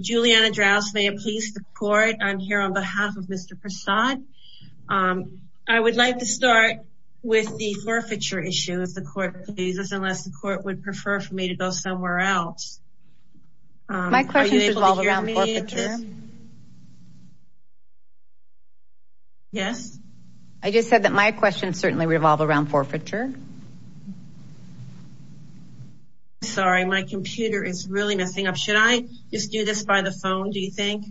Juliana Drows may it please the court, I'm here on behalf of Mr. Prasad. I would like to start with the forfeiture issue if the court pleases, unless the court would prefer for me to go somewhere else. My questions revolve around forfeiture. Yes? I just said that my questions certainly revolve around forfeiture. Sorry, my computer is really messing up. Should I just do this by the phone, do you think?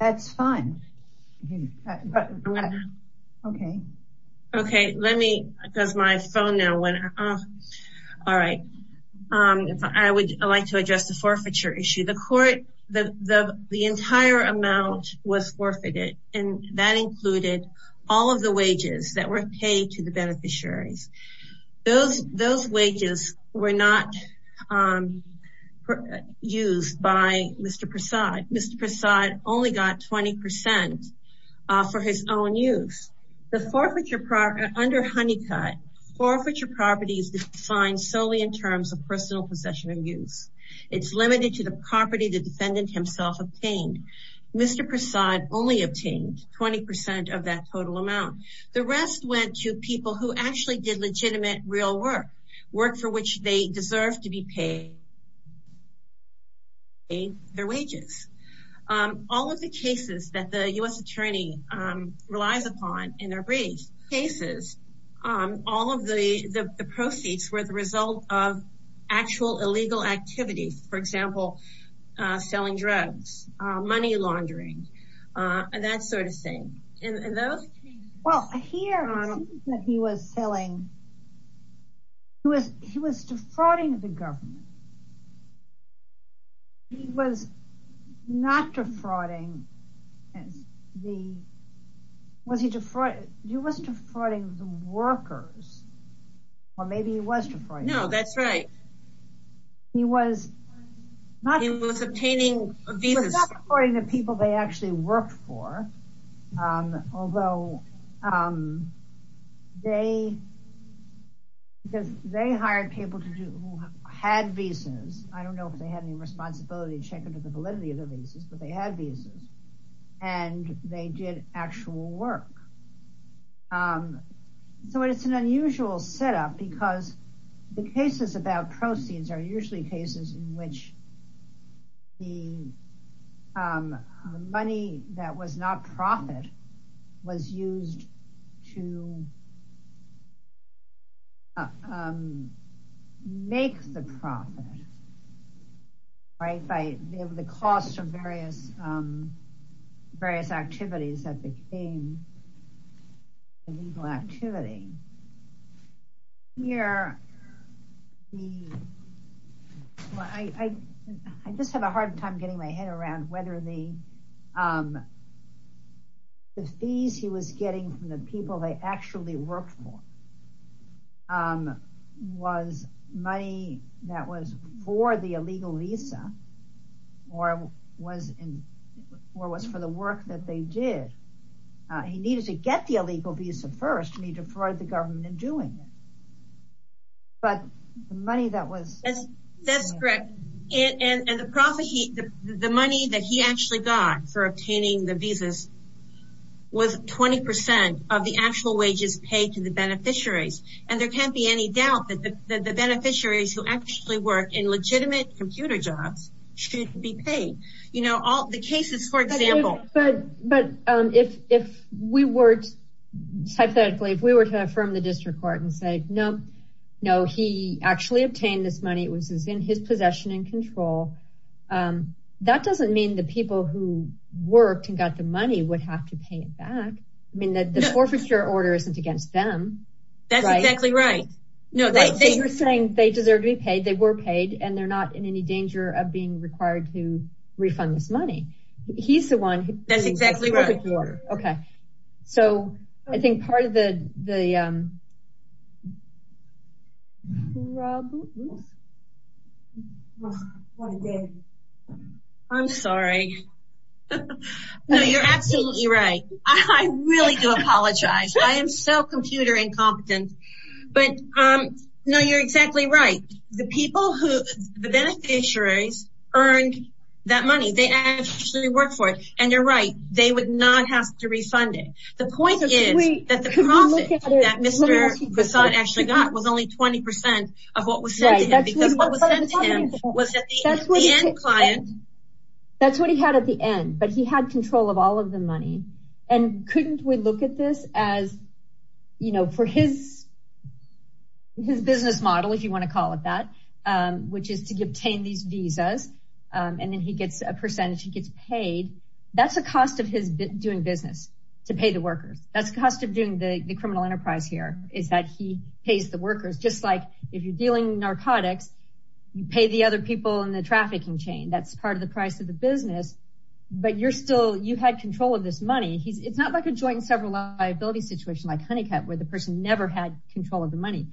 That's fine. Okay. Okay, let me because my phone now went off. All right. I would like to address the forfeiture issue. The court, the entire amount was forfeited and that included all of the Those wages were not used by Mr. Prasad. Mr. Prasad only got 20% for his own use. The forfeiture property, under Honeycutt, forfeiture property is defined solely in terms of personal possession and use. It's limited to the property the defendant himself obtained. Mr. Prasad only legitimate real work, work for which they deserve to be paid their wages. All of the cases that the U.S. attorney relies upon in their brief cases, all of the proceeds were the result of actual illegal activities, for example, selling drugs, money laundering, and that sort of thing. And those? Well, here he was selling, he was defrauding the government. He was not defrauding the, was he defrauding, he was defrauding the workers. Or maybe he was defrauding. No, that's right. He was not He was obtaining a visa. He was not defrauding the people they actually worked for. Although they, because they hired people who had visas, I don't know if they had any responsibility to check into the validity of the visas, but they had visas, and they did actual work. So it's an unusual setup, because the cases about proceeds are usually cases in which the money that was not profit was used to make the profit, right, by the cost of various, various Well, I just have a hard time getting my head around whether the fees he was getting from the people they actually worked for was money that was for the illegal visa, or was for the work that they did. He needed to get the illegal visa first, and he defrauded the government in doing it. But the money that was That's correct. And the profit, the money that he actually got for obtaining the visas was 20% of the actual wages paid to the beneficiaries. And there can't be any doubt that the beneficiaries who actually work in legitimate computer jobs should be paid. You know, all the cases, for example, But, but if we weren't, hypothetically, if we were to affirm the district court and say, No, no, he actually obtained this money, it was in his possession and control. That doesn't mean the people who worked and got the money would have to pay it back. I mean, that the forfeiture order isn't against them. That's exactly right. No, they were saying they deserve to be paid, they were paid, and they're not in any danger of being required to I'm sorry. You're absolutely right. I really do apologize. I am so computer incompetent. But um, no, you're exactly right. The people who the beneficiaries earned that money, they actually work for it. And you're right, they would not have to send it to him. That's what he had at the end, but he had control of all of the money. And couldn't we look at this as, you know, for his, his business model, if you want to call it that, which is to obtain these visas, and then he gets a percentage he gets paid. That's the cost of his doing business to pay the workers. That's the cost of doing the criminal enterprise here is that he pays the workers just like if you're dealing narcotics, you pay the other people in the trafficking chain. That's part of the price of the business. But you're still you had control of this money. He's it's not like a joint and several liability situation like honeycut where the person never had control of the money.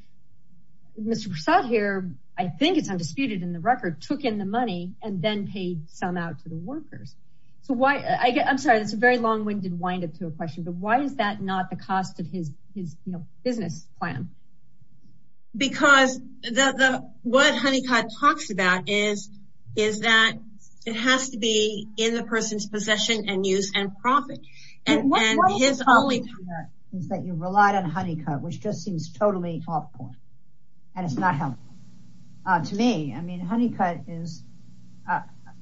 Mr. Prasad here, I think it's undisputed in the record took in the money and then paid some out to the workers. So why I'm sorry, that's a very long winded wind up to a question. But why is that not the cost of his his business plan? Because the what honeycut talks about is, is that it has to be in the person's possession and use and profit. And his only is that you relied on honeycut, which just seems totally awful. And it's not helpful. To me. I mean, honeycut is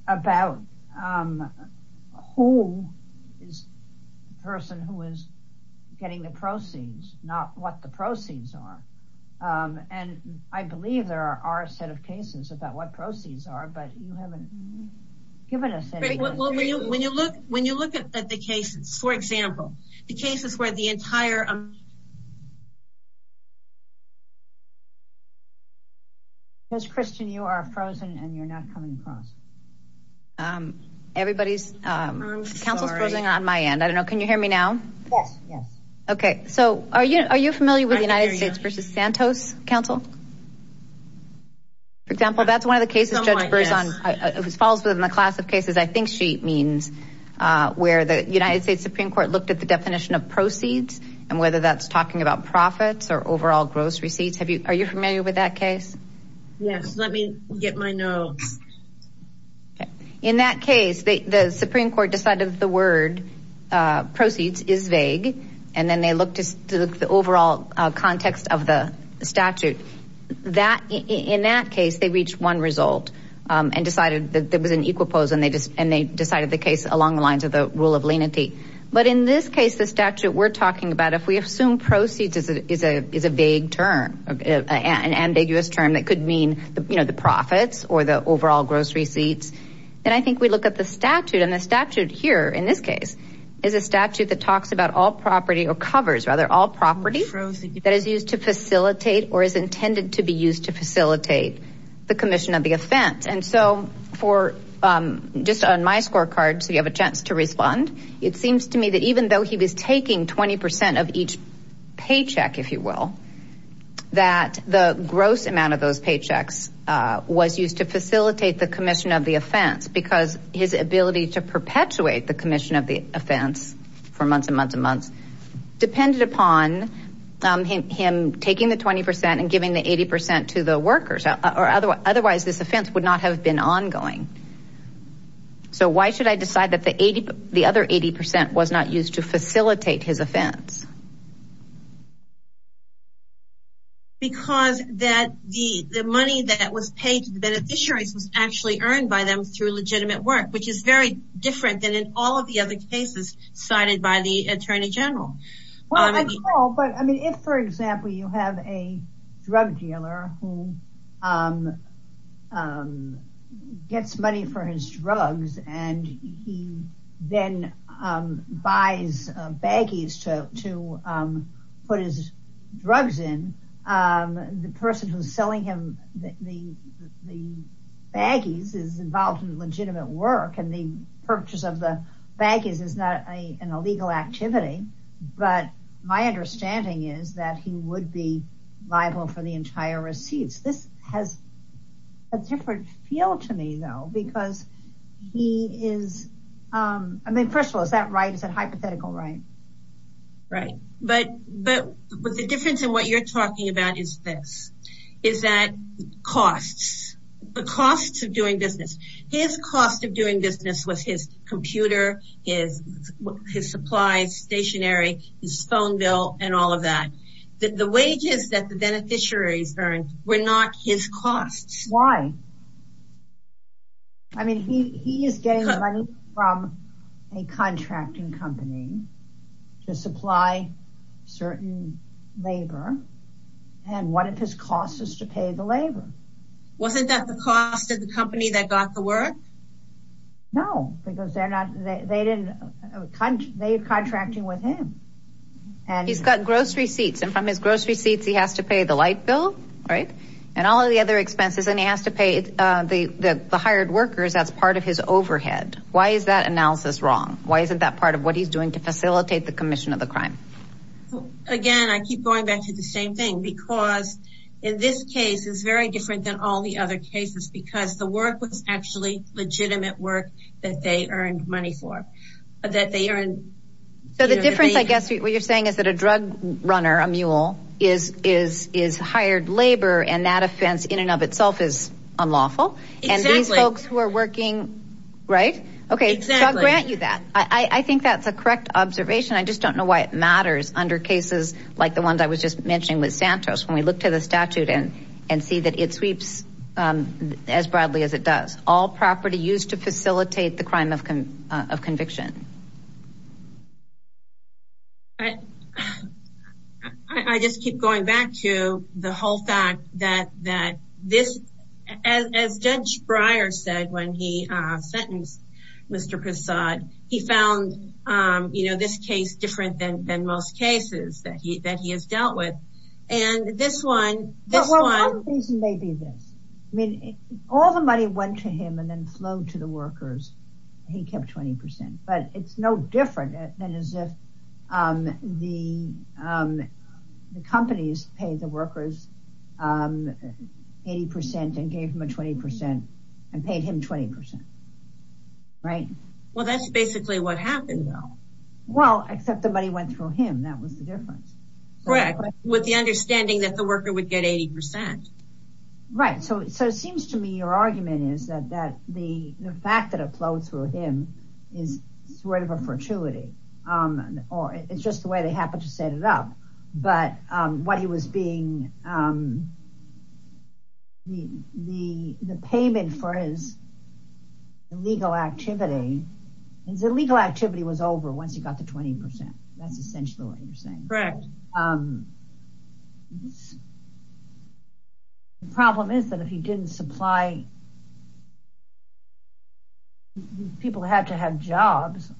about who is the person who is getting the proceeds, not what the proceeds are. And I believe there are a set of cases about what the entire Mr. Christian, you are frozen and you're not coming across. Everybody's Council's closing on my end. I don't know. Can you hear me now? Yes. Yes. Okay. So are you are you familiar with the United States versus Santos Council? For example, that's one of the cases. It falls within the class of cases. I think she means where the United States Supreme Court looked at the definition of proceeds and whether that's talking about profits or overall gross receipts. Have you are you familiar with that case? Yes, let me get my nose. In that case, the Supreme Court decided the word proceeds is vague. And then they look to the overall context of the statute that in that case, they reached one result and decided that there was an equal pose and they just and they decided the case along the lines of the rule of lenity. But in this case, the statute we're talking about, if we assume proceeds is a is a is a vague term, an ambiguous term that could mean, you know, the profits or the overall gross receipts. And I think we look at the statute and the statute here in this case is a statute that talks about all property or covers rather all property that is used to facilitate or is intended to be used to facilitate the commission of the offense because his ability to perpetuate the commission of the offense for months and months and months depended upon him taking the 20 percent and giving the 80 percent to the workers or otherwise this offense would not have been ongoing. So why should I decide that the 80 the other 80 percent was not used to facilitate his offense? Because that the the money that was paid to the beneficiaries was actually earned by them through legitimate work, which is very different than in all of the other cases cited by the attorney general. Well, I mean, if, for example, you have a drug dealer who gets money for his drugs and he then buys baggies to to put his drugs in, the person is not an illegal activity. But my understanding is that he would be liable for the entire receipts. This has a different feel to me, though, because he is I mean, first of all, is that right? Is that hypothetical? Right. Right. But but but the difference in what you're talking about is this is that costs, the costs of doing business, his cost of doing business with his computer, his his supplies, stationery, his phone bill and all of that, that the wages that the beneficiaries earned were not his costs. Why? I mean, he is getting money from a contracting company to supply certain labor. And what if his cost is to pay the labor? Wasn't that the cost of the company that got the work? No, because they're not they didn't they are contracting with him. And he's got gross receipts. And from his gross receipts, he has to pay the light bill. Right. And all of the other expenses. And he has to pay the hired workers. That's part of his overhead. Why is that analysis wrong? Why isn't that part of what he's doing to facilitate the commission of the crime? Again, I keep going back to the same thing, because in this case is very different than all the other cases, because the work was actually legitimate work that they earned money for, that they earned. So the difference, I guess, what you're saying is that a drug runner, a mule is is is hired labor. And that offense in and of itself is unlawful. And these folks who are working, right? Okay, I'll grant you that. I think that's a correct observation. I just don't know why it matters under cases like the ones I was just mentioning with Santos, when we look to the statute and, and see that it sweeps as broadly as it does all property used to facilitate the crime of conviction. I just keep going back to the whole fact that that this, as Judge Breyer said, when he sentenced, Mr. Prasad, he found, you know, this case different than most cases that he that he has dealt with. And this one, this may be this, I mean, all the money went to him and then flow to the workers. He kept 20%. But it's no different than as if the companies paid the workers 80% and gave him a 20% and paid him 20%. Right? Well, that's basically what happened. Well, except the money went through him. That was the difference. Correct. With the understanding that the worker would get 80%. Right. So it seems to me your argument is that the fact that it flowed through him is sort of a fortuity, or it's just the way they happen to set it up. But what he was being, the payment for his legal activity, his legal activity was over once he got the 20%. That's essentially what you're saying. Correct. The problem is that if he didn't supply, people had to have jobs,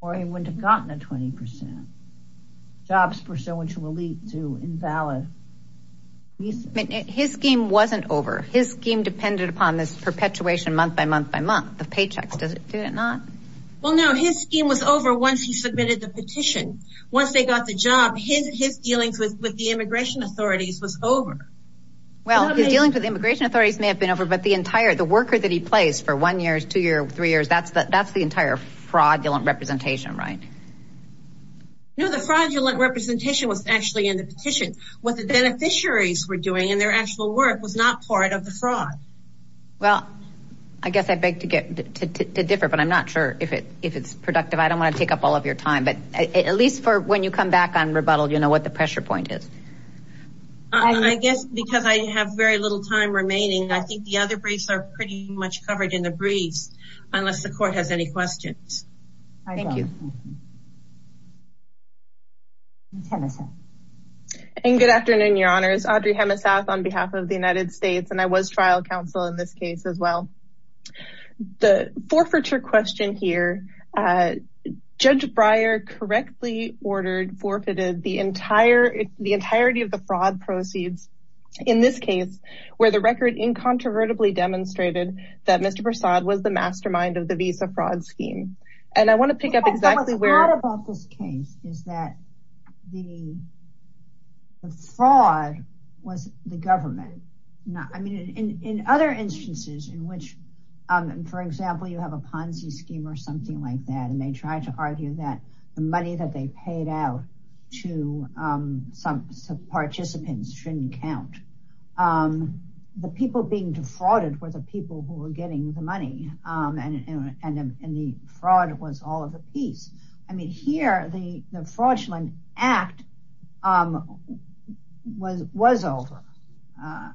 or he wouldn't have gotten a 20%. Jobs, for so much will lead to invalid. His scheme wasn't over. His scheme depended upon this perpetuation month by month by month, the paychecks. Did it not? Well, no, his scheme was over once he submitted the petition. Once they got the job, his dealings with the immigration authorities was over. Well, his dealings with the immigration authorities may have been over, but the entire, the worker that he placed for one year, two years, three years, that's the entire fraudulent representation, right? No, the fraudulent representation was actually in the petition. What the beneficiaries were doing in their actual work was not part of the fraud. Well, I guess I beg to differ, but I'm not sure if it's productive. I don't want to take up all of your time, but at least for when you come back on rebuttal, you know what the pressure point is. I guess because I have very little time remaining. I think the other briefs are pretty much covered in the briefs, unless the court has any questions. Thank you. And good afternoon, your honors. Audrey Hemisath on behalf of the United States. And I was trial counsel in this case as well. The forfeiture question here. Judge Breyer correctly ordered forfeited the entire, the entirety of the fraud proceeds in this case where the record incontrovertibly demonstrated that Mr. Prasad was the mastermind of the visa fraud scheme. And I want to pick up exactly where What's odd about this case is that the fraud was the government. I mean, in other instances in which, for example, you have a Ponzi scheme or something like that. And they tried to argue that the money that they paid out to some participants shouldn't count. The people being defrauded were the people who were getting the money and the fraud was all of the piece. I mean, here the fraudulent act was over.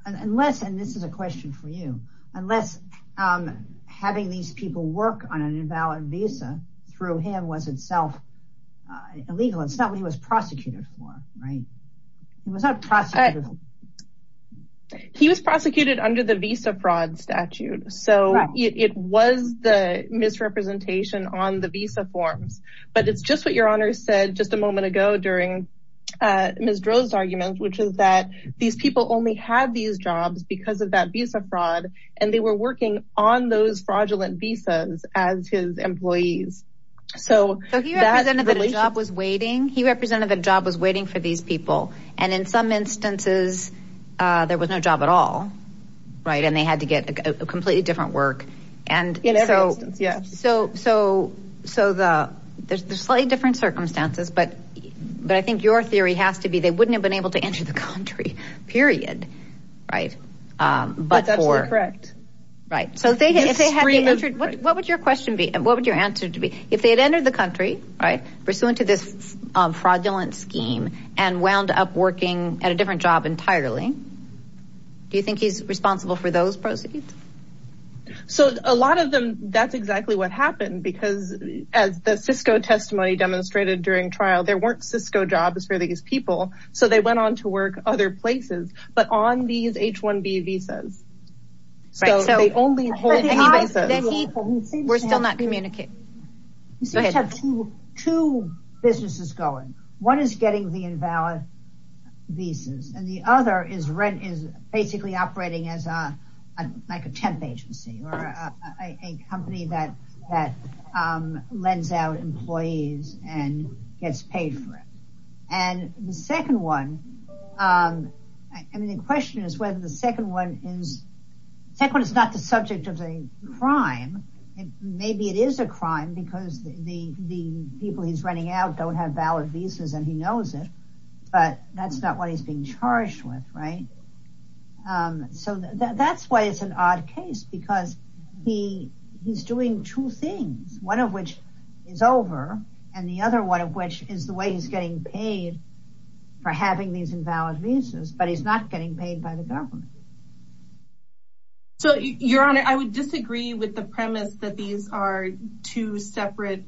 Unless, and this is a question for you, unless having these people work on an invalid visa through him was itself illegal. It's not what he was prosecuted for, right. It was not prosecuted for. He was prosecuted under the visa fraud statute. So it was the misrepresentation on the visa forms, but it's just what your honor said just a moment ago during Ms. Drozd's argument, which is that these people only have these jobs because of that visa fraud and they were working on those fraudulent visas as his employees. So he represented that a job was waiting. He represented that a job was waiting for these people. And in some instances, there was no job at all. Right. And they had to get a completely different work. And so, so, so the there's slightly different circumstances, but, but I think your theory has to be they wouldn't have been able to enter the country, period. Right. But that's correct. Right. So if they had entered, what would your question be? And what would your answer to be if they had entered the country, right. Pursuant to this fraudulent scheme and wound up working at a different job entirely. Do you think he's responsible for those proceeds? So a lot of them. That's exactly what happened. Because as the Cisco testimony demonstrated during trial, there weren't Cisco jobs for these people. So they went on to work other places. But on these H-1B visas. So they only hold any visas. We're still not communicating. Go ahead. Two businesses going. One is getting the invalid visas and the other is rent is basically operating as a like a temp agency or a company that that lends out employees and gets paid for it. And the second one. Um, I mean, the question is whether the second one is second is not the subject of a crime. Maybe it is a crime because the the people he's running out don't have valid visas and he knows it. But that's not what he's being charged with. Right. So that's why it's an odd case because he he's doing two things, one of which is over and the other one of which is the way he's getting paid for having these invalid visas, but he's not getting paid by the government. So, Your Honor, I would disagree with the premise that these are two separate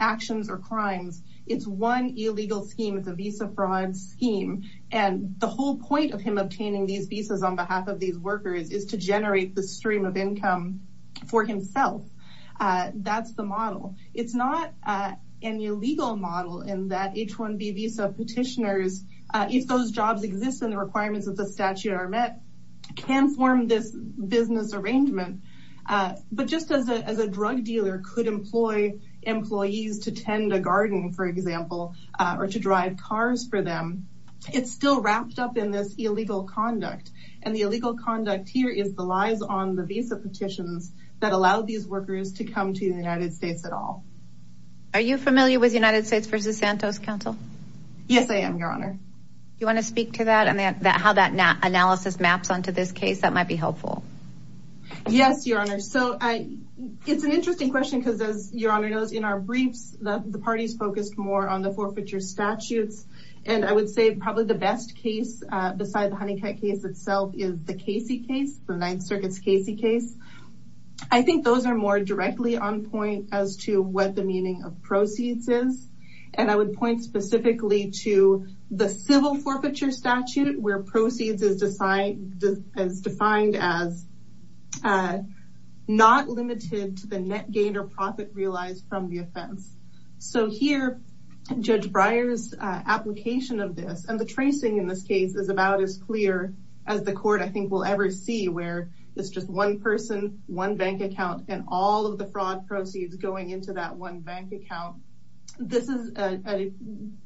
actions or crimes. It's one illegal scheme. It's a visa fraud scheme. And the whole point of him obtaining these visas on behalf of these workers is to generate the stream of income for himself. That's the model. It's not an illegal model in that H-1B visa petitioners, if those jobs exist and the requirements of the statute are met, can form this business arrangement. But just as a drug dealer could employ employees to tend a garden, for example, or to drive cars for them, it's still wrapped up in this illegal conduct. And the illegal conduct here is the lies on the visa petitions that allow these workers to come to the United States at all. Are you familiar with United States versus Santos Council? Yes, I am, Your Honor. Do you want to speak to that and how that analysis maps onto this case? That might be helpful. Yes, Your Honor. So it's an interesting question because, as Your Honor knows, in our briefs, the parties focused more on the forfeiture statutes. And I would say probably the best case beside the Honeycutt case itself is the Casey case, the Ninth Circuit's Casey case. I think those are more directly on point as to what the meaning of proceeds is. And I would point specifically to the civil forfeiture statute where proceeds is defined as not limited to the net gain or profit realized from the offense. So here, Judge Breyer's application of this and the tracing in this case is about as clear as the court, I think, will ever see where it's just one person, one bank account and all of the fraud proceeds going into that one bank account. This is a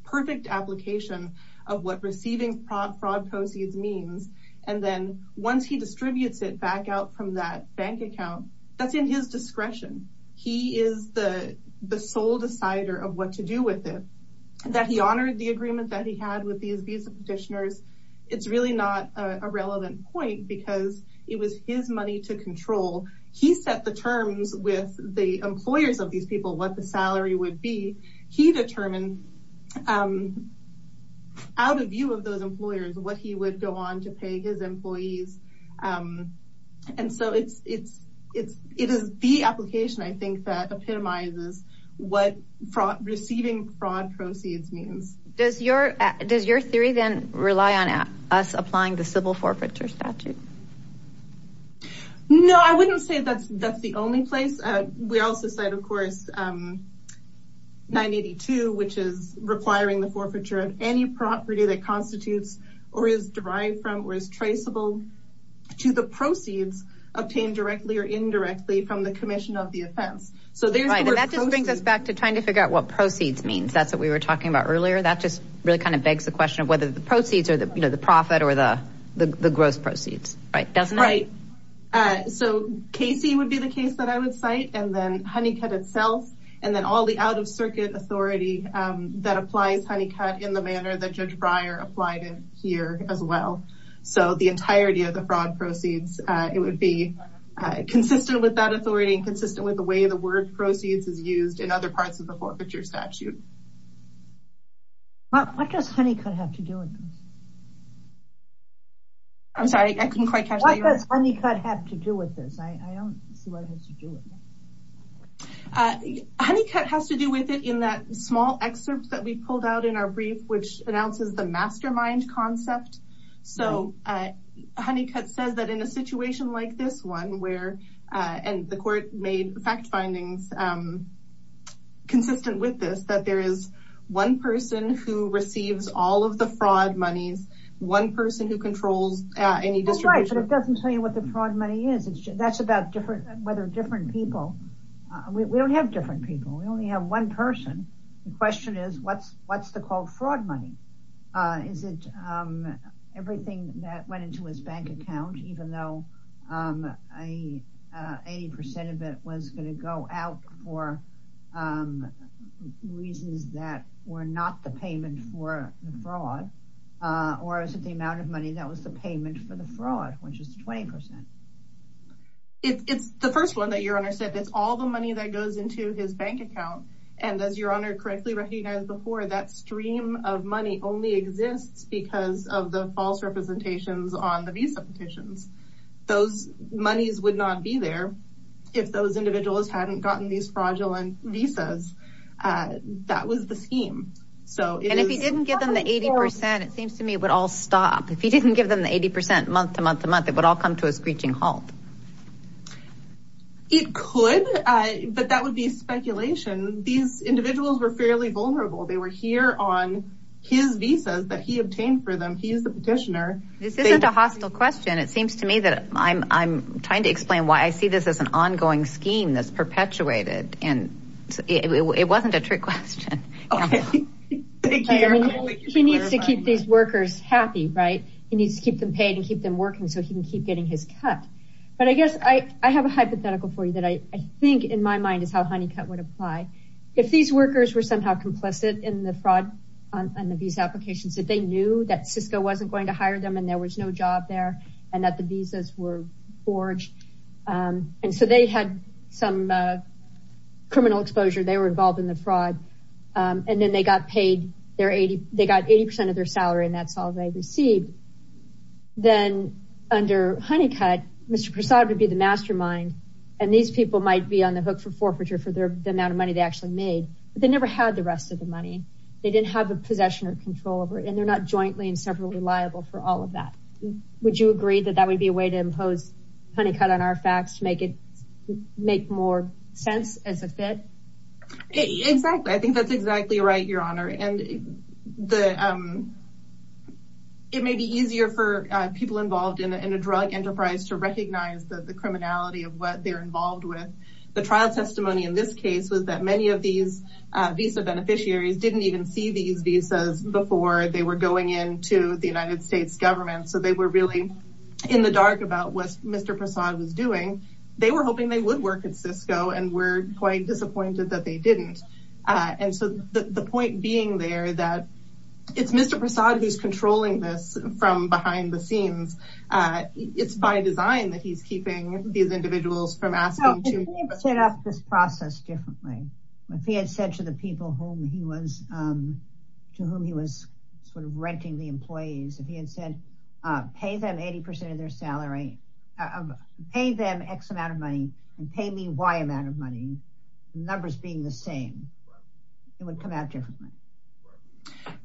perfect application of what receiving fraud proceeds means. And then once he distributes it back out from that bank account, that's in his discretion. He is the sole decider of what to do with it. That he honored the agreement that he had with these visa petitioners. It's really not a relevant point because it was his money to control. He set the terms with the employers of these people, what the salary would be. He determined out of view of those employers what he would go on to pay his employees. And so it is the application, I think, that epitomizes what receiving fraud proceeds means. Does your theory then rely on us applying the civil forfeiture statute? No, I wouldn't say that's the only place. We also said, of course, 982, which is requiring the forfeiture of any property that constitutes or is derived from or is traceable to the proceeds obtained directly or indirectly from the commission of the offense. So that just brings us back to trying to figure out what proceeds means. That's what we were talking about earlier. That just really kind of begs the question of whether the proceeds or the profit or the gross proceeds. Right. So Casey would be the case that I would cite. And then Honeycutt itself. And then all the out of circuit authority that applies Honeycutt in the manner that Judge Breyer applied in here as well. So the entirety of the fraud proceeds, it would be consistent with that authority and consistent with the way the word proceeds is used in other parts of the forfeiture statute. What does Honeycutt have to do with this? I'm sorry, I couldn't quite catch that. What does Honeycutt have to do with this? I don't see what it has to do with this. Honeycutt has to do with it in that small excerpt that we pulled out in our brief, which announces the mastermind concept. So Honeycutt says that in a situation like this one where and the court made fact findings consistent with this, that there is one person who receives all of the fraud monies, one person who controls any distribution. But it doesn't tell you what the fraud money is. That's about whether different people. We don't have different people. We only have one person. The question is, what's the called fraud money? Is it everything that went into his bank account, even though 80% of it was going to go out for reasons that were not the payment for the fraud? Or is it the amount of money that was the payment for the fraud, which is 20%? It's the first one that your honor said, it's all the money that goes into his bank account. And as your honor correctly recognized before, that stream of money only exists because of the false representations on the visa petitions. Those monies would not be there if those individuals hadn't gotten these fraudulent visas. That was the scheme. And if he didn't give them the 80%, it seems to me it would all stop. If he didn't give them the 80% month to month to month, it would all come to a screeching halt. It could, but that would be speculation. These individuals were fairly vulnerable. They were here on his visas that he obtained for them. He's the petitioner. This isn't a hostile question. It seems to me that I'm trying to explain why I see this as an ongoing scheme that's perpetuated. And it wasn't a trick question. He needs to keep these workers happy, right? He needs to keep them paid and keep them working so he can keep getting his cut. But I guess I have a hypothetical for you that I think in my mind is how Honeycutt would apply. If these workers were somehow complicit in the fraud on the visa applications, if they knew that Cisco wasn't going to hire them and there was no job there and that the visas were forged, and so they had some criminal exposure, they were involved in the fraud. And then they got 80% of their salary, and that's all they received. Then under Honeycutt, Mr. Prasad would be the mastermind, and these people might be on the hook for forfeiture for the amount of money they actually made. But they never had the rest of the money. They didn't have the possession or control over it, and they're not jointly and separately liable for all of that. Would you agree that that would be a way to impose Honeycutt on our facts to make more sense as a fit? Exactly. I think that's exactly right, Your Honor. And it may be easier for people involved in a drug enterprise to recognize the criminality of what they're involved with. The trial testimony in this case was that many of these visa beneficiaries didn't even see these visas before they were going into the United States government. So they were really in the dark about what Mr. Prasad was doing. They were hoping they would work at Cisco and were quite disappointed that they didn't. And so the point being there that it's Mr. Prasad who's controlling this from behind the scenes. It's by design that he's keeping these individuals from asking to... If he had said to the people whom he was to whom he was sort of renting the employees, if he had said, pay them 80 percent of their salary, pay them X amount of money and pay me Y amount of money, numbers being the same, it would come out differently.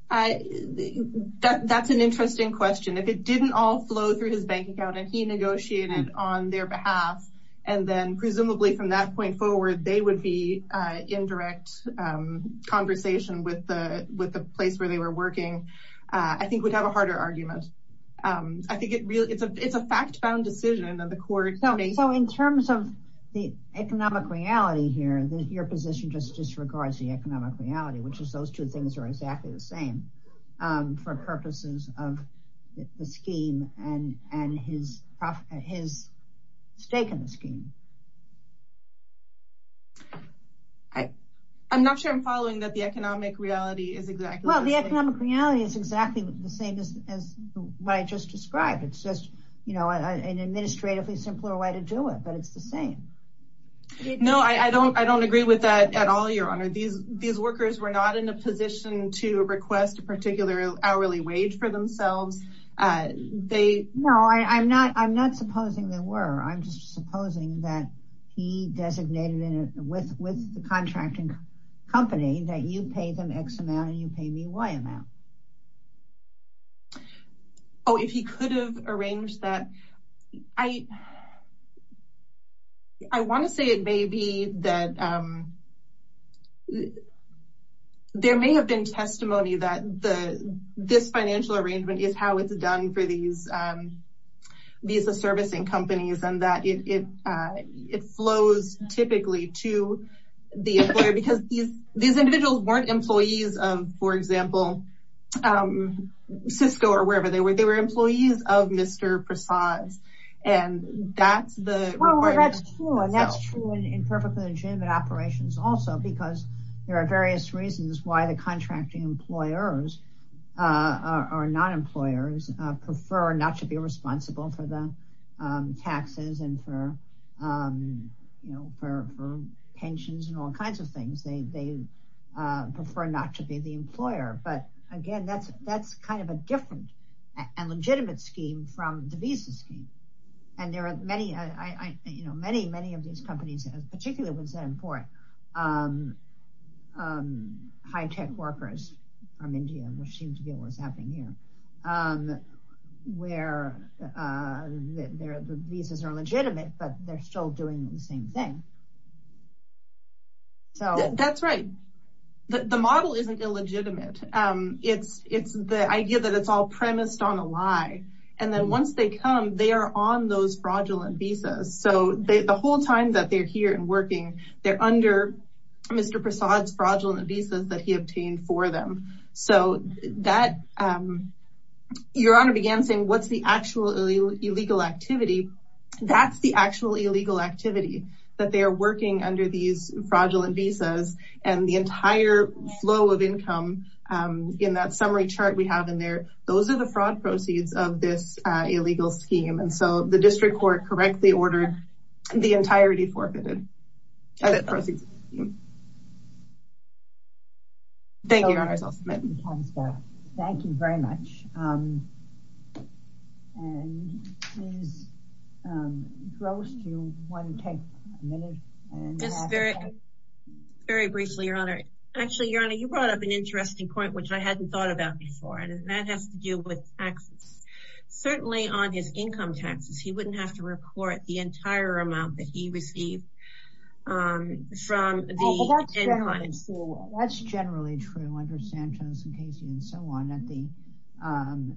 That's an interesting question. If it didn't all flow through his bank account and he negotiated on their behalf, and then presumably from that point forward, they would be in direct conversation with the place where they were working, I think we'd have a harder argument. I think it's a fact-found decision of the court. So in terms of the economic reality here, your position just disregards the economic reality, which is those two things are exactly the same for purposes of the scheme and his stake in the scheme. I'm not sure I'm following that the economic reality is exactly the same. The economic reality is exactly the same as what I just described. It's just an administratively simpler way to do it, but it's the same. No, I don't agree with that at all, Your Honor. These workers were not in a position to request a particular hourly wage for themselves. No, I'm not supposing they were. I'm just supposing that he designated with the contracting company that you pay them X amount and you pay me Y amount. Oh, if he could have arranged that, I want to say it may be that there may have been testimony that this financial arrangement is how it's done for these visa servicing companies and that it flows typically to the employer, because these individuals weren't employees of, for example, Cisco or wherever they were, they were employees of Mr. Prasad's and that's the requirement. And that's true in perfectly legitimate operations also, because there are various reasons why the contracting employers or non-employers prefer not to be responsible for the taxes and for pensions and all kinds of things. They prefer not to be the employer. But again, that's kind of a different and legitimate scheme from the visa scheme. And there are many, many of these companies, particularly high-tech workers from India, which seems to be what's happening here, where the visas are legitimate, but they're still doing the same thing. That's right. The model isn't illegitimate. It's the idea that it's all premised on a lie. And then once they come, they are on those fraudulent visas. So the whole time that they're here and working, they're under Mr. Prasad's fraudulent visas that he obtained for them. Your Honor began saying, what's the actual illegal activity? That's the actual illegal activity that they are working under these fraudulent visas. And the entire flow of income in that summary chart we have in there, those are the fraud proceeds of this illegal scheme. And so the district court correctly ordered the entirety forfeited proceeds. Thank you, Your Honor. Thank you very much. Very briefly, Your Honor. Actually, Your Honor, you brought up an interesting point, which I hadn't thought about before. And that has to do with taxes. Certainly on his income taxes, he wouldn't have to report the entire amount that he received from the income. That's generally true under Santos and Casey and so on.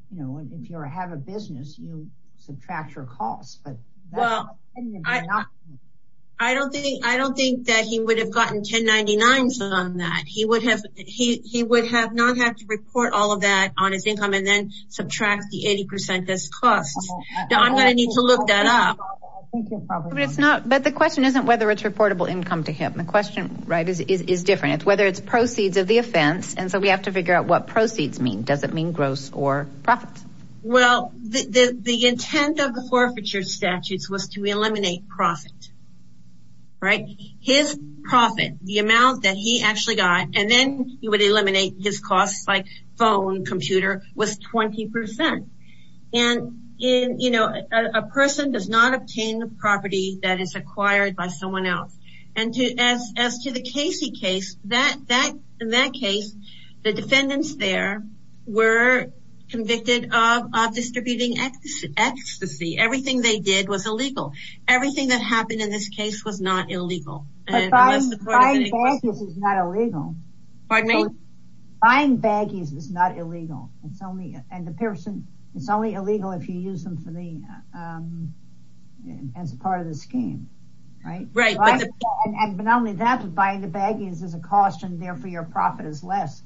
If you have a business, you subtract your costs. I don't think that he would have gotten 1099s on that. He would not have to report all of that on his income and then subtract the 80% as costs. I'm going to need to look that up. But the question isn't whether it's reportable income to him. The question is different. It's whether it's proceeds of the offense. And so we have to figure out what proceeds mean. Does it mean gross or profits? Well, the intent of the forfeiture statutes was to eliminate profit. His profit, the amount that he actually got, and then he would eliminate his costs like phone, computer, was 20%. And, you know, a person does not obtain the property that is acquired by someone else. And as to the Casey case, in that case, the defendants there were convicted of distributing ecstasy. Everything they did was illegal. Everything that happened in this case was not illegal. Buying baggies is not illegal. Buying baggies is not illegal. It's only illegal if you use them as part of the scheme. But not only that, but buying the baggies is a cost and therefore your profit is less.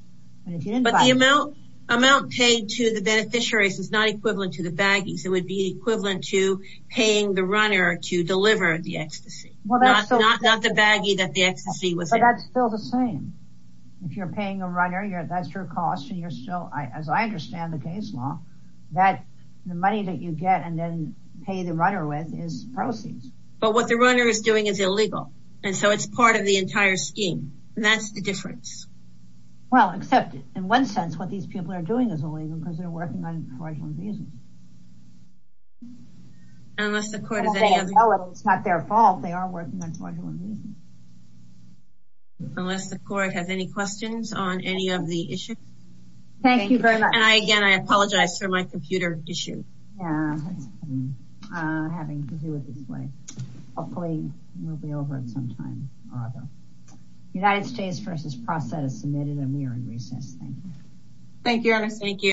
But the amount paid to the beneficiaries is not equivalent to the baggies. It would be equivalent to paying the runner to deliver the ecstasy. Not the baggie that the ecstasy was. But that's still the same. If you're paying a runner, that's your cost. And you're still, as I understand the case law, that the money that you get and then pay the runner with is proceeds. But what the runner is doing is illegal. And so it's part of the entire scheme. And that's the difference. Well, except in one sense, what these people are doing is illegal because they're working on fraudulent reasons. Unless the court has any questions on any of the issues. Thank you very much. And again, I apologize for my computer issue. I'm having to do it this way. Hopefully we'll be over in some time. United States versus process submitted a mere recess. Thank you. Thank you.